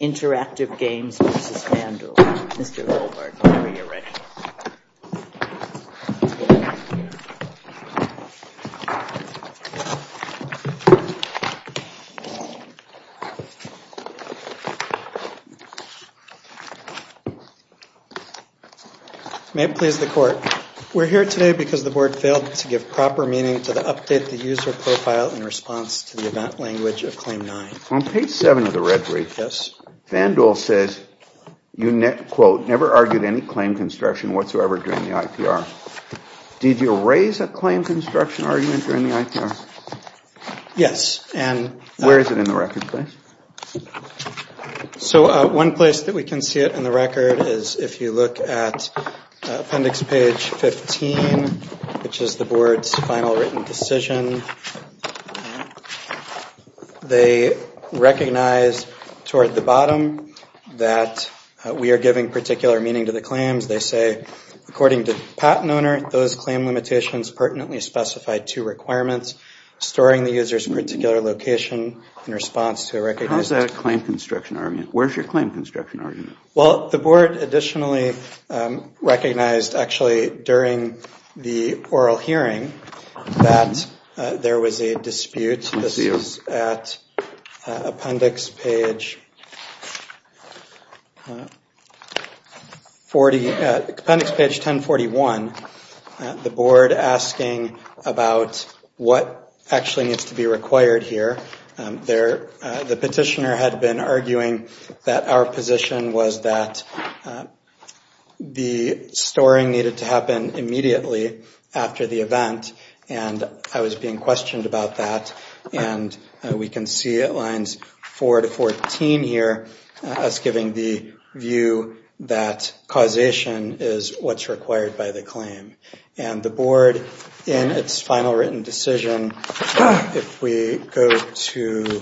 Interactive Games versus FanDuel. Mr. Goldberg, whenever you're ready. May it please the court. We're here today because the board failed to give proper meaning to the update the user profile in response to the event language of Claim 9. On page 7 of the red brief, FanDuel says, quote, never argued any claim construction whatsoever during the IPR. Did you raise a claim construction argument during the IPR? Yes. Where is it in the record, please? So one place that we can see it in the record is if you look at appendix page 15, which is the board's final written decision. They recognize toward the bottom that we are giving particular meaning to the claims. They say, according to the patent owner, those claim limitations pertinently specify two requirements, storing the user's particular location in response to a recognized... How is that a claim construction argument? Where is your claim construction argument? Well, the board additionally recognized actually during the oral hearing that there was a dispute. This is at appendix page 40, appendix page 1041. The board asking about what actually needs to be required here. The petitioner had been arguing that our position was that the storing needed to happen immediately after the event, and I was being questioned about that. And we can see at lines 4 to 14 here, us giving the view that causation is what's required by the claim. And the board in its final written decision, if we go to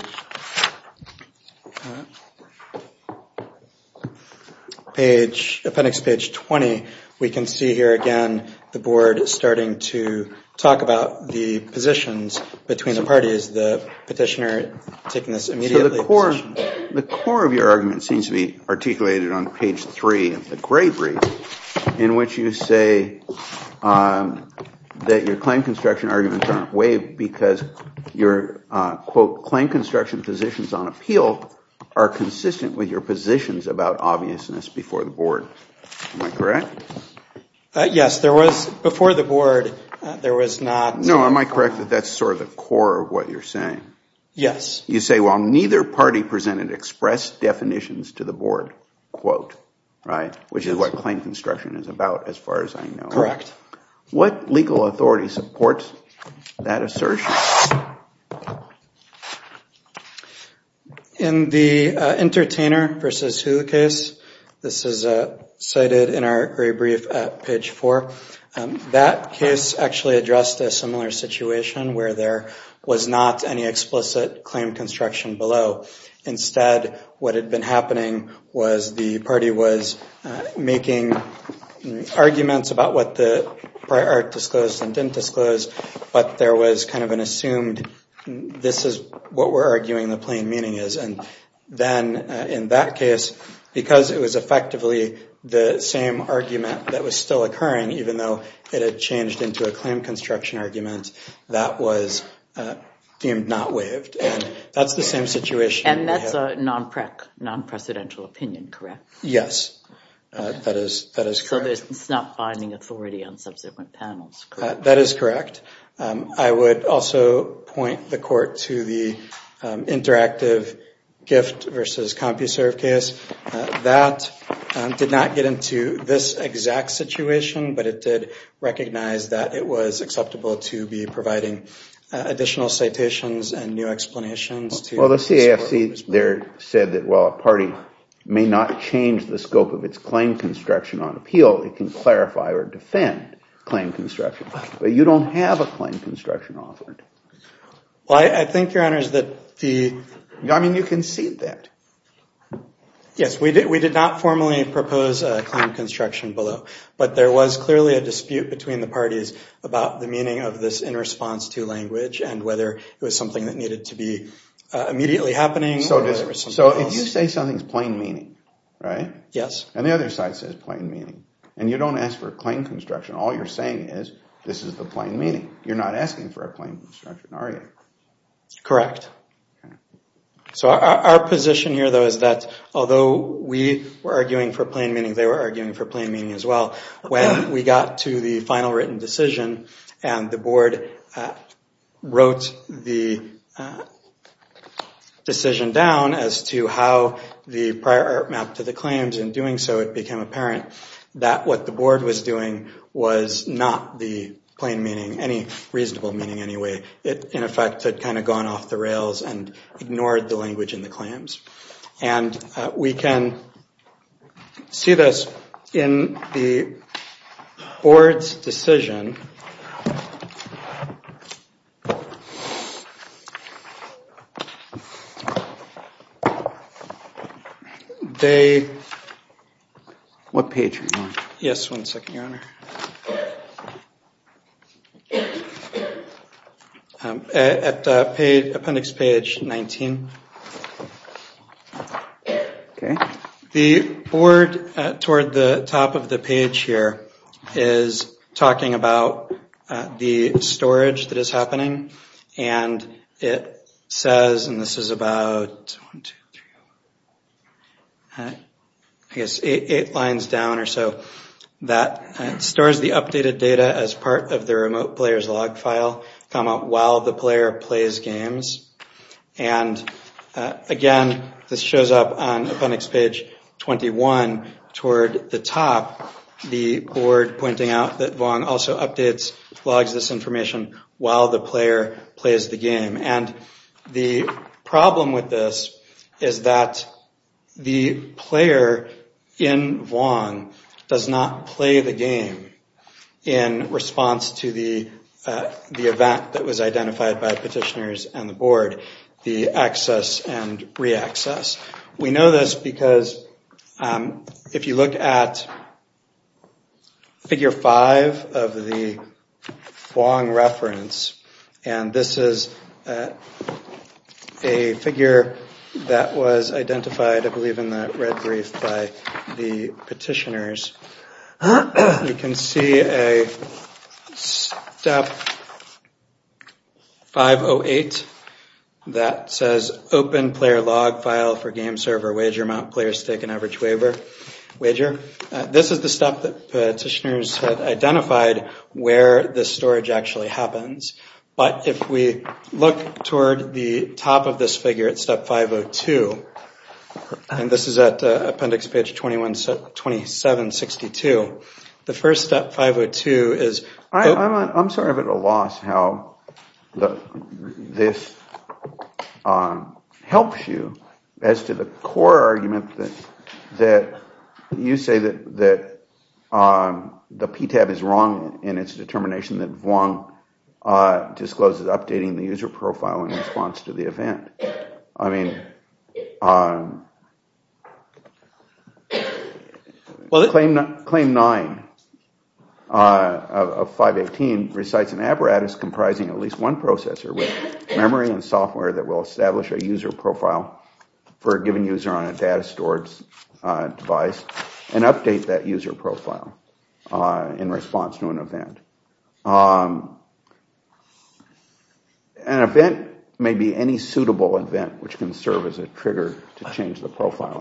appendix page 20, we can see here again the board starting to talk about the positions between the parties. The petitioner taking this immediately... The core of your argument seems to be articulated on page 3 of the gray brief, in which you say that your claim construction arguments are not waived because your, quote, claim construction positions on appeal are consistent with your positions about obviousness before the board. Am I correct? Yes. Before the board, there was not... No, am I correct that that's sort of the core of what you're saying? Yes. You say while neither party presented express definitions to the board, quote, which is what claim construction is about as far as I know. Correct. What legal authority supports that assertion? In the entertainer versus who case, this is cited in our gray brief at page 4. That case actually addressed a similar situation where there was not any explicit claim construction below. Instead, what had been happening was the party was making arguments about what the prior art disclosed and didn't disclose, but there was kind of an assumed claim construction. It was assumed this is what we're arguing the plain meaning is. And then in that case, because it was effectively the same argument that was still occurring, even though it had changed into a claim construction argument, that was deemed not waived. And that's the same situation. And that's a non-precedential opinion, correct? Yes. That is correct. So it's not finding authority on subsequent panels. That is correct. I would also point the court to the interactive gift versus CompuServe case. That did not get into this exact situation, but it did recognize that it was acceptable to be providing additional citations and new explanations. Well, the CAFC there said that while a party may not change the scope of its claim construction on appeal, it can clarify or defend claim construction. But you don't have a claim construction authority. Well, I think, Your Honors, that the... I mean, you can see that. Yes, we did not formally propose a claim construction below. But there was clearly a dispute between the parties about the meaning of this in response to language and whether it was something that needed to be immediately happening. So if you say something's plain meaning, right? Yes. And the other side says plain meaning. And you don't ask for a claim construction. All you're saying is this is the plain meaning. You're not asking for a plain construction, are you? Correct. So our position here, though, is that although we were arguing for plain meaning, they were arguing for plain meaning as well. When we got to the final written decision and the board wrote the decision down as to how the prior art mapped to the claims in doing so, it became apparent that what the board was doing was not the plain meaning, any reasonable meaning anyway. It, in effect, had kind of gone off the rails and ignored the language in the claims. And we can see this in the board's decision. What page are you on? Yes, one second, Your Honor. At appendix page 19. The board, toward the top of the page here, is talking about the storage that is happening. And it says, and this is about eight lines down or so, that it stores the updated data as part of the remote player's log file while the player plays games. And, again, this shows up on appendix page 21. Toward the top, the board pointing out that Vuong also updates, logs this information while the player plays the game. And the problem with this is that the player in Vuong does not play the game in response to the event that was identified by petitioners and the board. The access and re-access. We know this because if you look at figure five of the Vuong reference, and this is a figure that was identified, I believe, in that red brief by the petitioners. You can see a step 508. That says open player log file for game server, wager amount, player stake and average waiver. This is the step that petitioners identified where the storage actually happens. But if we look toward the top of this figure at step 502. And this is at appendix page 2762. The first step 502 is... I'm sorry I'm at a loss how this helps you as to the core argument that you say that the PTAB is wrong in its determination that Vuong discloses updating the user profile in response to the event. I mean, claim nine of 518 recites an apparatus comprising at least one processor with memory and software that will establish a user profile for a given user on a data storage device and update that user profile in response to an event. An event may be any suitable event which can serve as a trigger to change the profile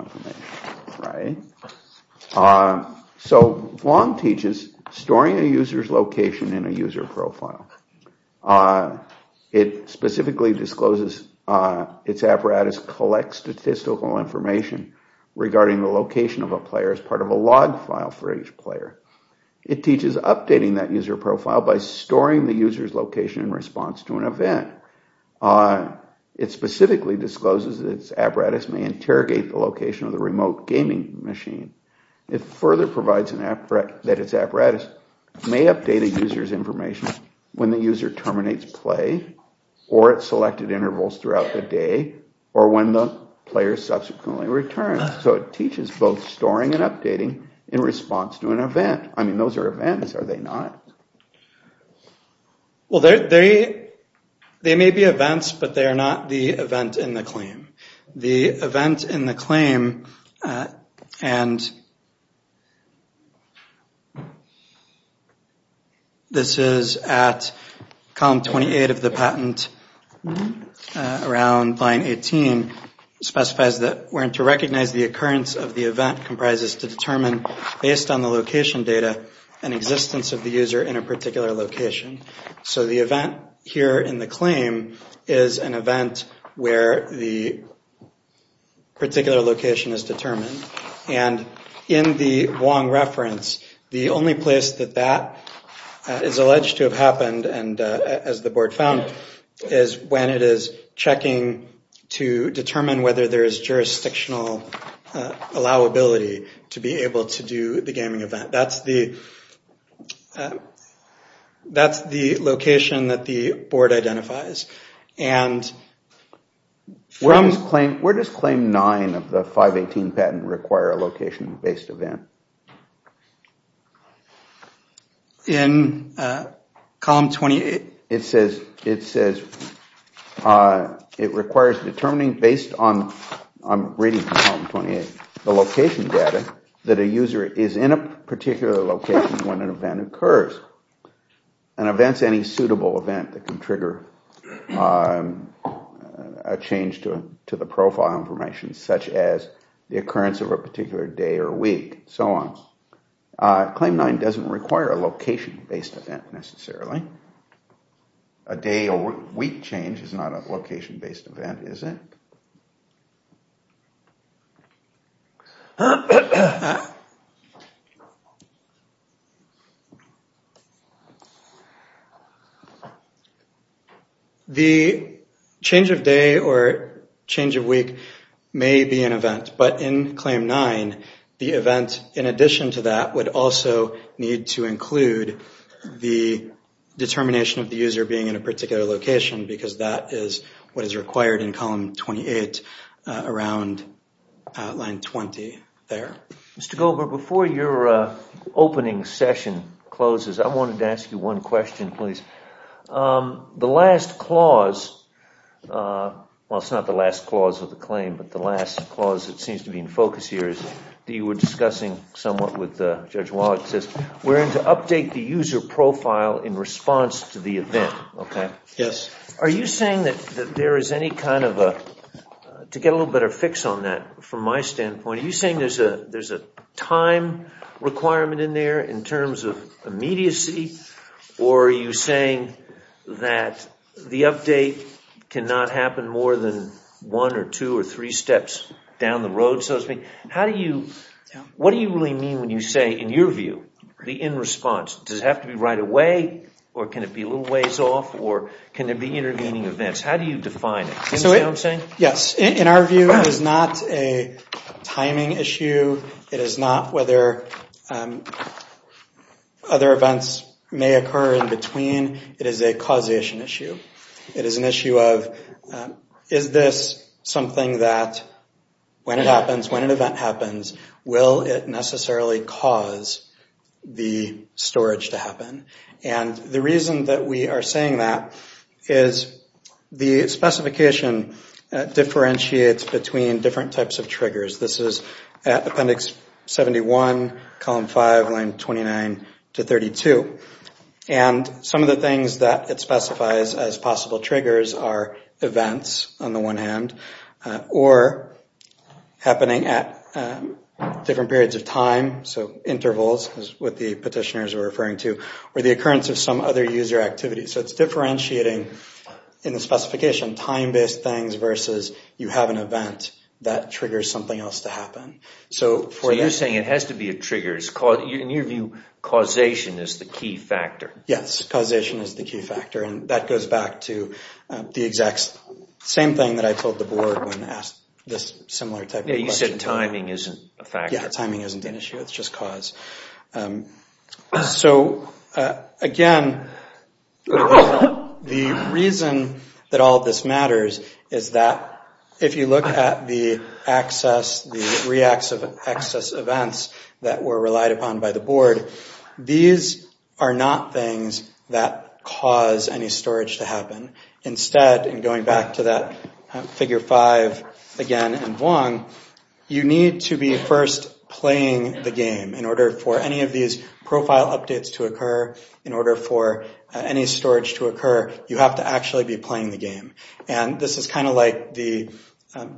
information. So Vuong teaches storing a user's location in a user profile. It specifically discloses its apparatus collects statistical information regarding the location of a player as part of a log file for each player. It teaches updating that user profile by storing the user's location in response to an event. It specifically discloses its apparatus may interrogate the location of the remote gaming machine. It further provides that its apparatus may update a user's information when the user terminates play or at selected intervals throughout the day or when the player subsequently returns. So it teaches both storing and updating in response to an event. I mean, those are events, are they not? Well, they may be events, but they are not the event in the claim. The event in the claim, and this is at column 28 of the patent around line 18, specifies that we're going to recognize the event when the occurrence of the event comprises to determine, based on the location data, an existence of the user in a particular location. So the event here in the claim is an event where the particular location is determined. And in the Vuong reference, the only place that that is alleged to have happened, as the board found, is when it is checking to determine whether there is jurisdictional allowability to be able to do the gaming event. That's the location that the board identifies. Where does claim 9 of the 518 patent require a location-based event? In column 28, it says it requires determining based on, I'm reading from column 28, the location data that a user is in a particular location when an event occurs. An event is any suitable event that can trigger a change to the profile information, such as the occurrence of a particular day or week, so on. Claim 9 doesn't require a location-based event, necessarily. A day or week change is not a location-based event, is it? The change of day or change of week may be an event, but in claim 9, the event in addition to that would also need to include the determination of the user being in a particular location, because that is what is required in column 28, around line 20 there. Mr. Goldberg, before your opening session closes, I wanted to ask you one question, please. The last clause, well, it's not the last clause of the claim, but the last clause that seems to be in focus here that you were discussing somewhat with Judge Wallach, says we're going to update the user profile in response to the event. Are you saying that there is any kind of, to get a little better fix on that from my standpoint, are you saying there's a time requirement in there in terms of immediacy, or are you saying that the update cannot happen more than one or two or three steps down the road? What do you really mean when you say, in your view, the in response? Does it have to be right away, or can it be a little ways off, or can there be intervening events? How do you define it? In our view, it is not a timing issue. It is not whether other events may occur in between. It is a causation issue. It is an issue of, is this something that, when it happens, when an event happens, will it necessarily cause the storage to happen? And the reason that we are saying that is the specification differentiates between different types of triggers. This is appendix 71, column 5, line 29 to 32. And some of the things that it specifies as possible triggers are events on the one hand, or happening at different periods of time, so intervals is what the petitioners are referring to, or the occurrence of some other user activity. So it is differentiating, in the specification, time-based things versus you have an event that triggers something else to happen. So you are saying it has to be a trigger. In your view, causation is the key factor. Yes, causation is the key factor, and that goes back to the exact same thing that I told the board when asked this similar type of question. Yeah, you said timing isn't a factor. Yeah, timing isn't an issue, it's just cause. So again, the reason that all of this matters is that if you look at the access, the reacts of access events that were relied upon by the board, these are not things that cause any storage to happen. Instead, going back to that figure 5 again in Vuong, you need to be first playing the game in order for any of these profile updates to occur, in order for any storage to occur, you have to actually be playing the game. And this is kind of like the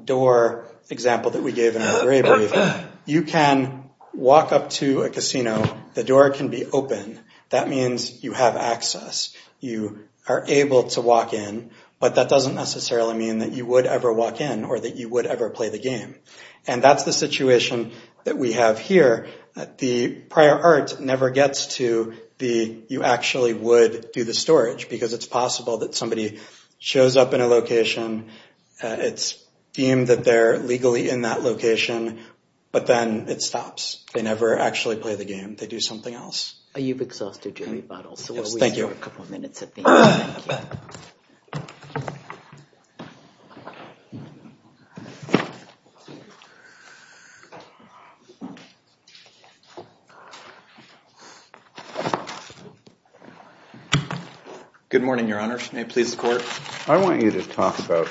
door example that we gave in our bravery thing. You can walk up to a casino, the door can be open. That means you have access. You are able to walk in, but that doesn't necessarily mean that you would ever walk in, or that you would ever play the game. And that's the situation that we have here. The prior art never gets to the, you actually would do the storage, because it's possible that somebody shows up in a location, it's deemed that they're legally in that location, but then it stops. They never actually play the game, they do something else. You've exhausted your rebuttal, so we'll wait a couple of minutes at the end. Good morning, Your Honor. May it please the Court? I want you to talk about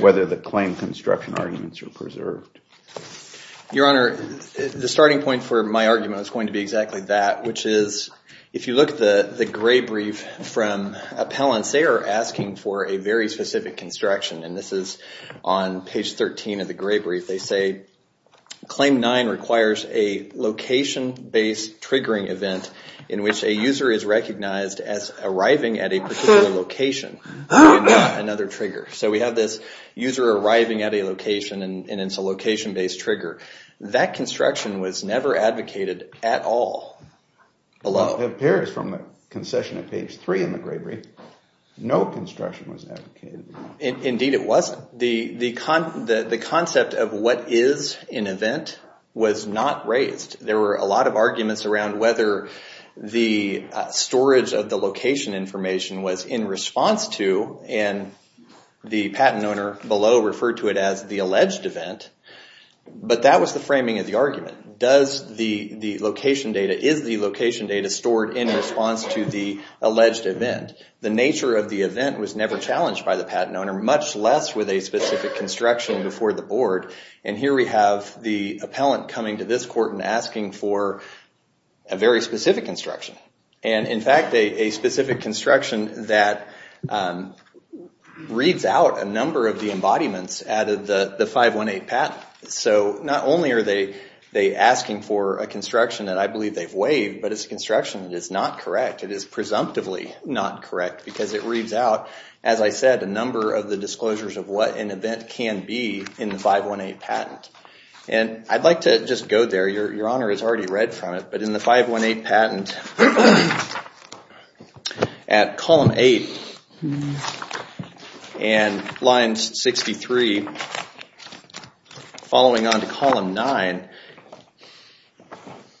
whether the claim construction arguments are preserved. Your Honor, the starting point for my argument is going to be exactly that, which is, if you look at the gray brief from Appellants, they are asking for a very specific construction. And this is on page 13 of the gray brief. They say, Claim 9 requires a location-based triggering event in which a user is recognized as arriving at a particular location. So we have this user arriving at a location, and it's a location-based trigger. That construction was never advocated at all. It appears from the concession at page 3 in the gray brief, no construction was advocated. Indeed it wasn't. The concept of what is an event was not raised. There were a lot of arguments around whether the storage of the location information was in response to, and the patent owner below referred to it as the alleged event, but that was the framing of the argument. Is the location data stored in response to the alleged event? The nature of the event was never challenged by the patent owner, much less with a specific construction before the Board. And here we have the appellant coming to this Court and asking for a very specific construction. And in fact, a specific construction that reads out a number of the embodiments out of the 518 patent. So not only are they asking for a construction that I believe they've waived, but it's a construction that is not correct. It is presumptively not correct because it reads out, as I said, a number of the disclosures of what an event can be in the 518 patent. I'd like to just go there. Your Honor has already read from it, but in the 518 patent, at column 8, and line 63, following on to column 9,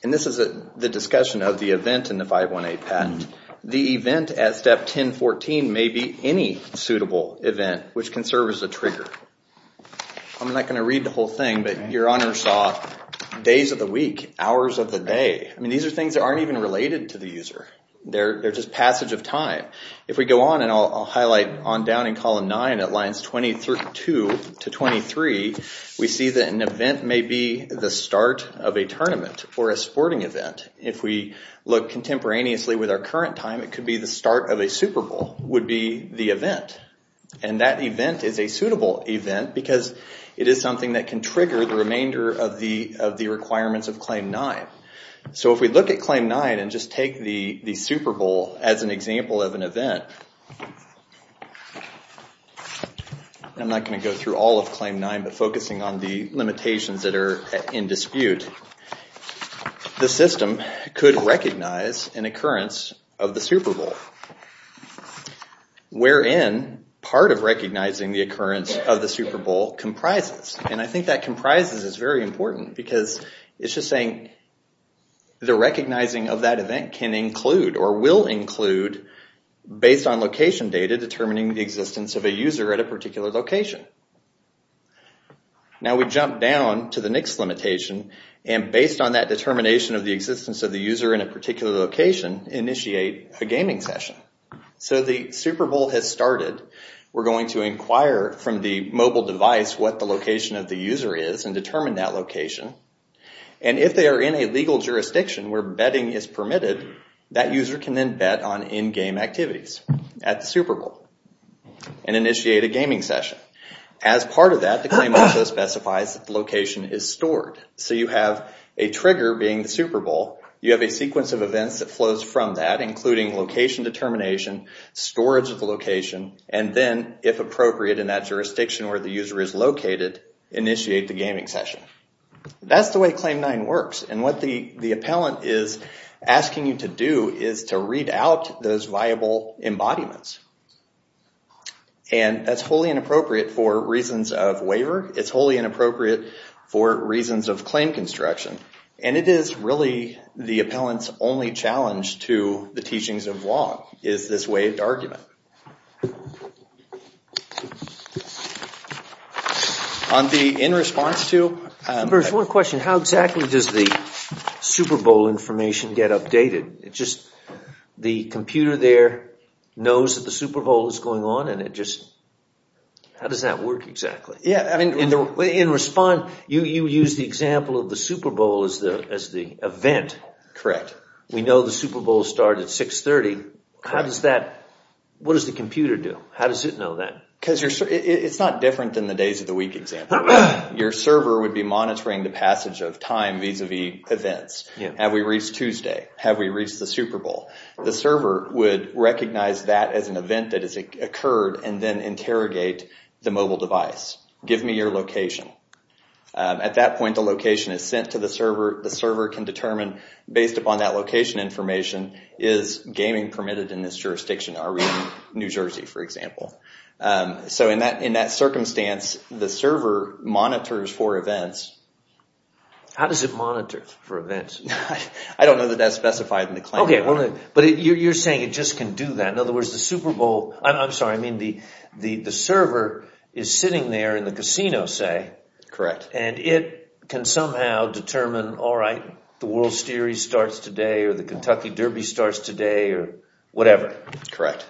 and this is the discussion of the event in the 518 patent, the event at step 1014 may be any suitable event which can serve as a trigger. I'm not going to read the whole thing, but Your Honor saw days of the week, hours of the day. I mean, these are things that aren't even related to the user. They're just passage of time. If we go on, and I'll highlight on down in column 9 at lines 22 to 23, we see that an event may be the start of a tournament or a sporting event. If we look contemporaneously with our current time, it could be the start of a Super Bowl would be the event. That event is a suitable event because it is something that can trigger the remainder of the requirements of Claim 9. If we look at Claim 9 and just take the Super Bowl as an example of an event, I'm not going to go through all of Claim 9, but focusing on the limitations that are in dispute, the system could recognize an occurrence of the Super Bowl, wherein part of recognizing the occurrence of the Super Bowl comprises. I think that comprises is very important because it's just saying the recognizing of that event can include or will include based on location data determining the existence of a user at a particular location. Now we jump down to the next limitation, and based on that determination of the existence of the user in a particular location, we can initiate a gaming session. The Super Bowl has started. We're going to inquire from the mobile device what the location of the user is and determine that location. If they are in a legal jurisdiction where betting is permitted, that user can then bet on in-game activities at the Super Bowl and initiate a gaming session. As part of that, the claim also specifies that the location is stored. So you have a trigger being the Super Bowl. You have a sequence of events that flows from that, including location determination, storage of the location, and then, if appropriate in that jurisdiction where the user is located, initiate the gaming session. That's the way Claim 9 works. And what the appellant is asking you to do is to read out those viable embodiments. And that's wholly inappropriate for reasons of waiver. It's wholly inappropriate for reasons of claim construction. And it is really the appellant's only challenge to the teachings of law is this waived argument. There's one question. How exactly does the Super Bowl information get updated? The computer there knows that the Super Bowl is going on and it just... How does that work exactly? You use the example of the Super Bowl as the event. We know the Super Bowl starts at 6.30. What does the computer do? How does it know that? It's not different than the days of the week example. Your server would be monitoring the passage of time vis-a-vis events. Have we reached Tuesday? Have we reached the Super Bowl? The server would recognize that as an event that has occurred and then interrogate the mobile device. Give me your location. At that point, the location is sent to the server. The server can determine based upon that location information, is gaming permitted in this jurisdiction? Are we in New Jersey, for example? In that circumstance, the server monitors for events. How does it monitor for events? I don't know that that's specified in the claim. You're saying it just can do that. The server is sitting there in the casino and it can somehow determine if the World Series starts today or the Kentucky Derby starts today. Correct.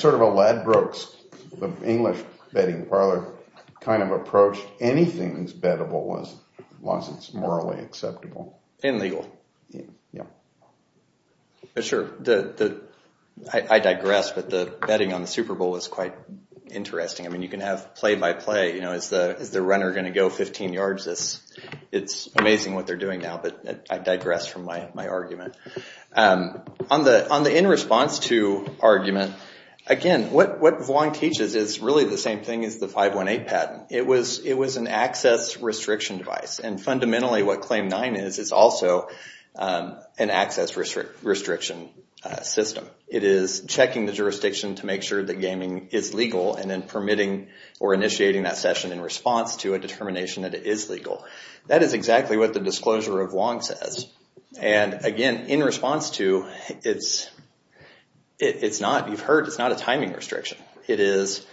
Sort of a Ladbrokes, the English betting parlor kind of approach. Anything that's bettable wasn't morally acceptable. I digress, but the betting on the Super Bowl was quite interesting. You can have play by play. Is the runner going to go 15 yards? It's amazing what they're doing now, but I digress from my argument. On the in response to argument, again, what Vuong teaches is really the same thing as the 518 patent. It was an access restriction device, and fundamentally what Claim 9 is, it's also an access restriction system. It is checking the jurisdiction to make sure that gaming is legal and then permitting or initiating that session in response to a determination that it is legal. That is exactly what the disclosure of Vuong says. Again, in response to, you've heard, it's not a timing restriction. It is,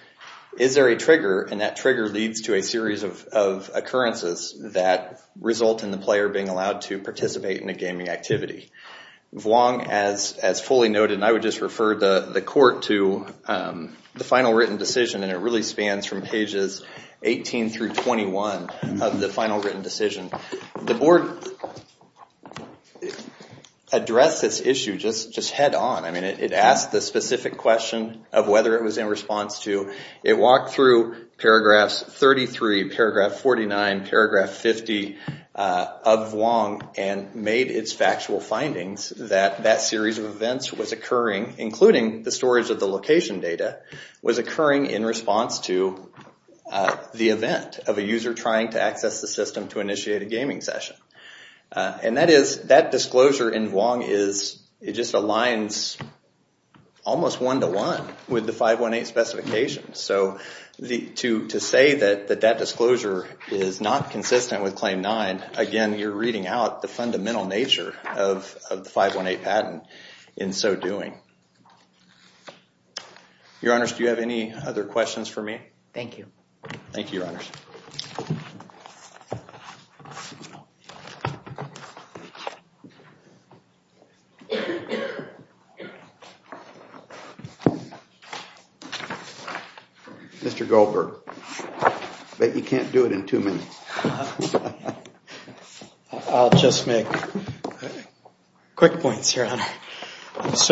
is there a trigger, and that trigger leads to a series of occurrences that result in the player being allowed to participate in a gaming activity. Vuong, as fully noted, and I would just refer the court to the final written decision, and it really spans from pages 18 through 21 of the final written decision. The board addressed this issue just head on. It asked the specific question of whether it was in response to. It walked through paragraphs 33, paragraph 49, paragraph 50 of Vuong and made its factual findings that that series of events was occurring, including the storage of the location data, was occurring in response to the event of a user trying to access the system to initiate a gaming session. And that is, that disclosure in Vuong is, it just aligns almost one-to-one with the 518 specification. So to say that that disclosure is not consistent with Claim 9, again, you're reading out the fundamental nature of the 518 patent in so doing. Your Honors, do you have any other questions for me? Mr. Goldberg, I bet you can't do it in two minutes. I'll just make quick points here. First,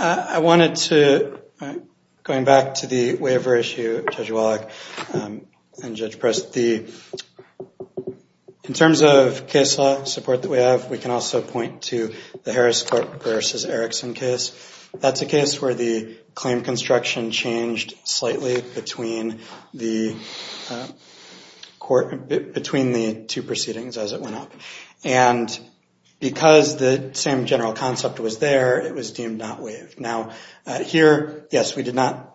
I wanted to, going back to the waiver issue, Judge Wallach, and Judge Preston, in terms of case law support that we have, we can also point to the Harris court versus Erickson case. That's a case where the claim construction changed slightly between the two proceedings as it went up. And because the same general concept was there, it was deemed not waived. Now, here, yes, we did not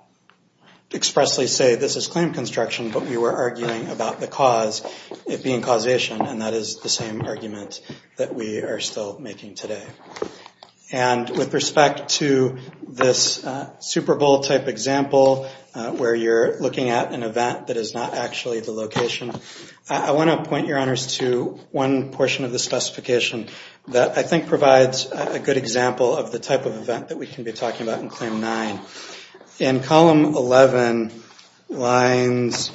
expressly say this is claim construction, but we were arguing about the cause, it being causation, and that is the same argument that we are still making today. And with respect to this Super Bowl type example, where you're looking at an event that is not actually the location, I want to point, Your Honors, to one portion of the specification that I think provides a good example of the type of event that we can be talking about in Claim 9. In Column 11, lines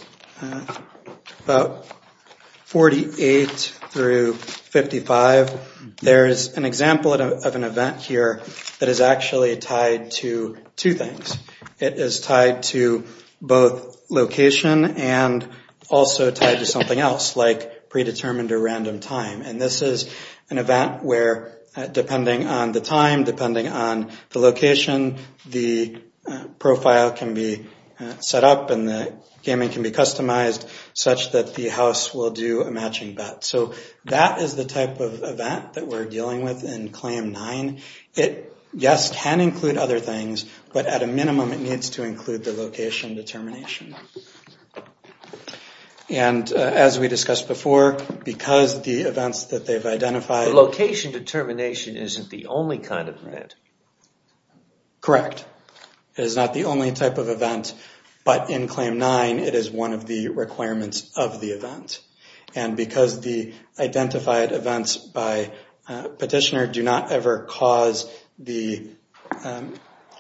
48 through 55, there is an example of an event here that is actually tied to two things. It is tied to both location and also tied to something else, like predetermined or random time. And this is an event where, depending on the time, depending on the location, the profile can be set up and the gaming can be customized such that the house will do a matching bet. So that is the type of event that we're dealing with in Claim 9. It, yes, can include other things, but at a minimum it needs to include the location determination. And as we discussed before, because the events that they've identified... The location determination isn't the only kind of event. Correct. It is not the only type of event, but in Claim 9 it is one of the requirements of the event. And because the identified events by petitioner do not ever cause the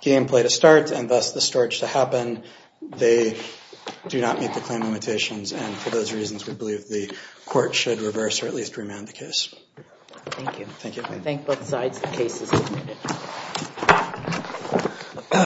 gameplay to start and thus the storage to happen, they do not meet the claim limitations, and for those reasons we believe the Court should reverse or at least remand the case. Thank you. Thank you.